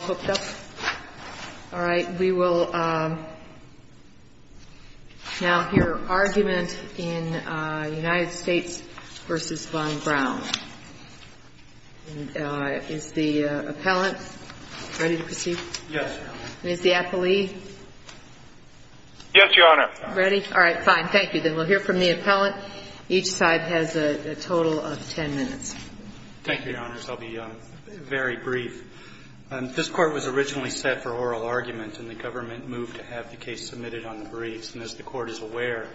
hooked up? All right. We will now hear argument in United States v. Von Brown. And is the appellant ready to proceed? Yes, Your Honor. And is the appellee? Yes, Your Honor. Ready? All right. Fine. Thank you. Then we'll hear from the appellant. Each side has a total of 10 minutes. Thank you, Your Honors. I'll be very brief. This court was originally set for oral argument, and the government moved to have the case submitted on the briefs. And as the court is aware,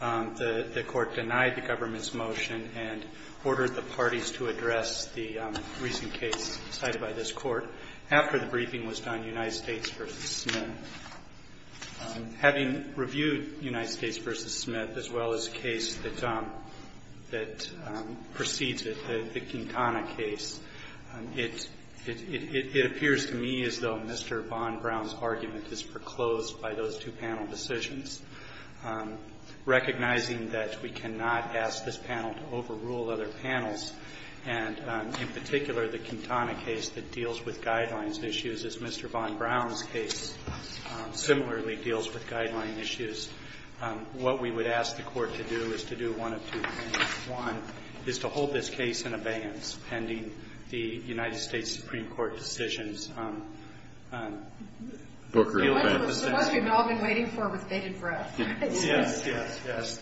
the court denied the government's motion and ordered the parties to address the recent case cited by this court after the briefing was done, United States v. Smith. Having reviewed United States v. Smith, as well as the case that precedes it, the Quintana case, it appears to me as though Mr. Von Brown's argument is foreclosed by those two panel decisions. Recognizing that we cannot ask this panel to overrule other panels, and in particular, the Quintana case that deals with guidelines issues as Mr. Von Brown's case similarly deals with guideline issues, what we would ask the court to do is to do one of two things. One is to hold this case in abeyance pending the United States Supreme Court decisions. Booker, I'll back this up. It's a question we've all been waiting for with bated breath. Yes, yes, yes.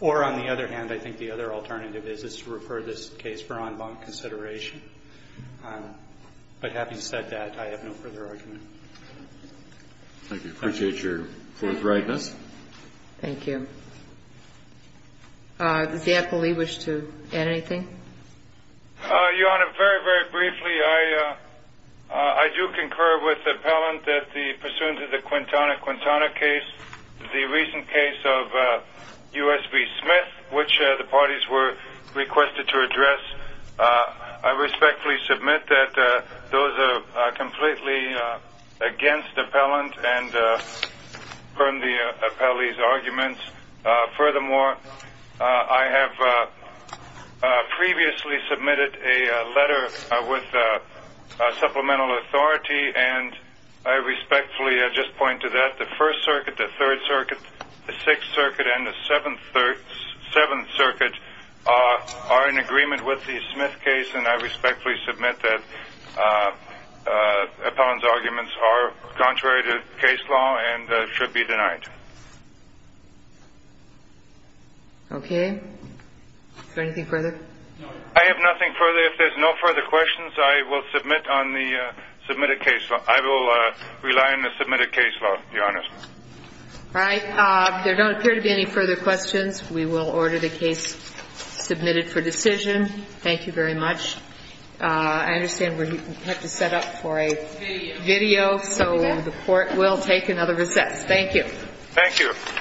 Or on the other hand, I think the other alternative is to refer this case for en banc consideration. But having said that, I have no further argument. Thank you. Appreciate your forthrightness. Thank you. Does the appellee wish to add anything? Your Honor, very, very briefly, I do concur with the appellant that pursuant to the Quintana-Quintana case, the recent case of US v. Smith, which the parties were requested to address, I respectfully submit that those are completely against the appellant and from the appellee's arguments. Furthermore, I have previously submitted a letter with supplemental authority. And I respectfully just point to that. The First Circuit, the Third Circuit, the Sixth Circuit, and the Seventh Circuit are in agreement with the Smith case. And I respectfully submit that the appellant's arguments are contrary to case law and should be denied. OK, is there anything further? I have nothing further. If there's no further questions, I will submit on the submitted case law. I will rely on the submitted case law, Your Honor. All right, there don't appear to be any further questions. We will order the case submitted for decision. Thank you very much. I understand we have to set up for a video, so the court will take another recess. Thank you. Thank you.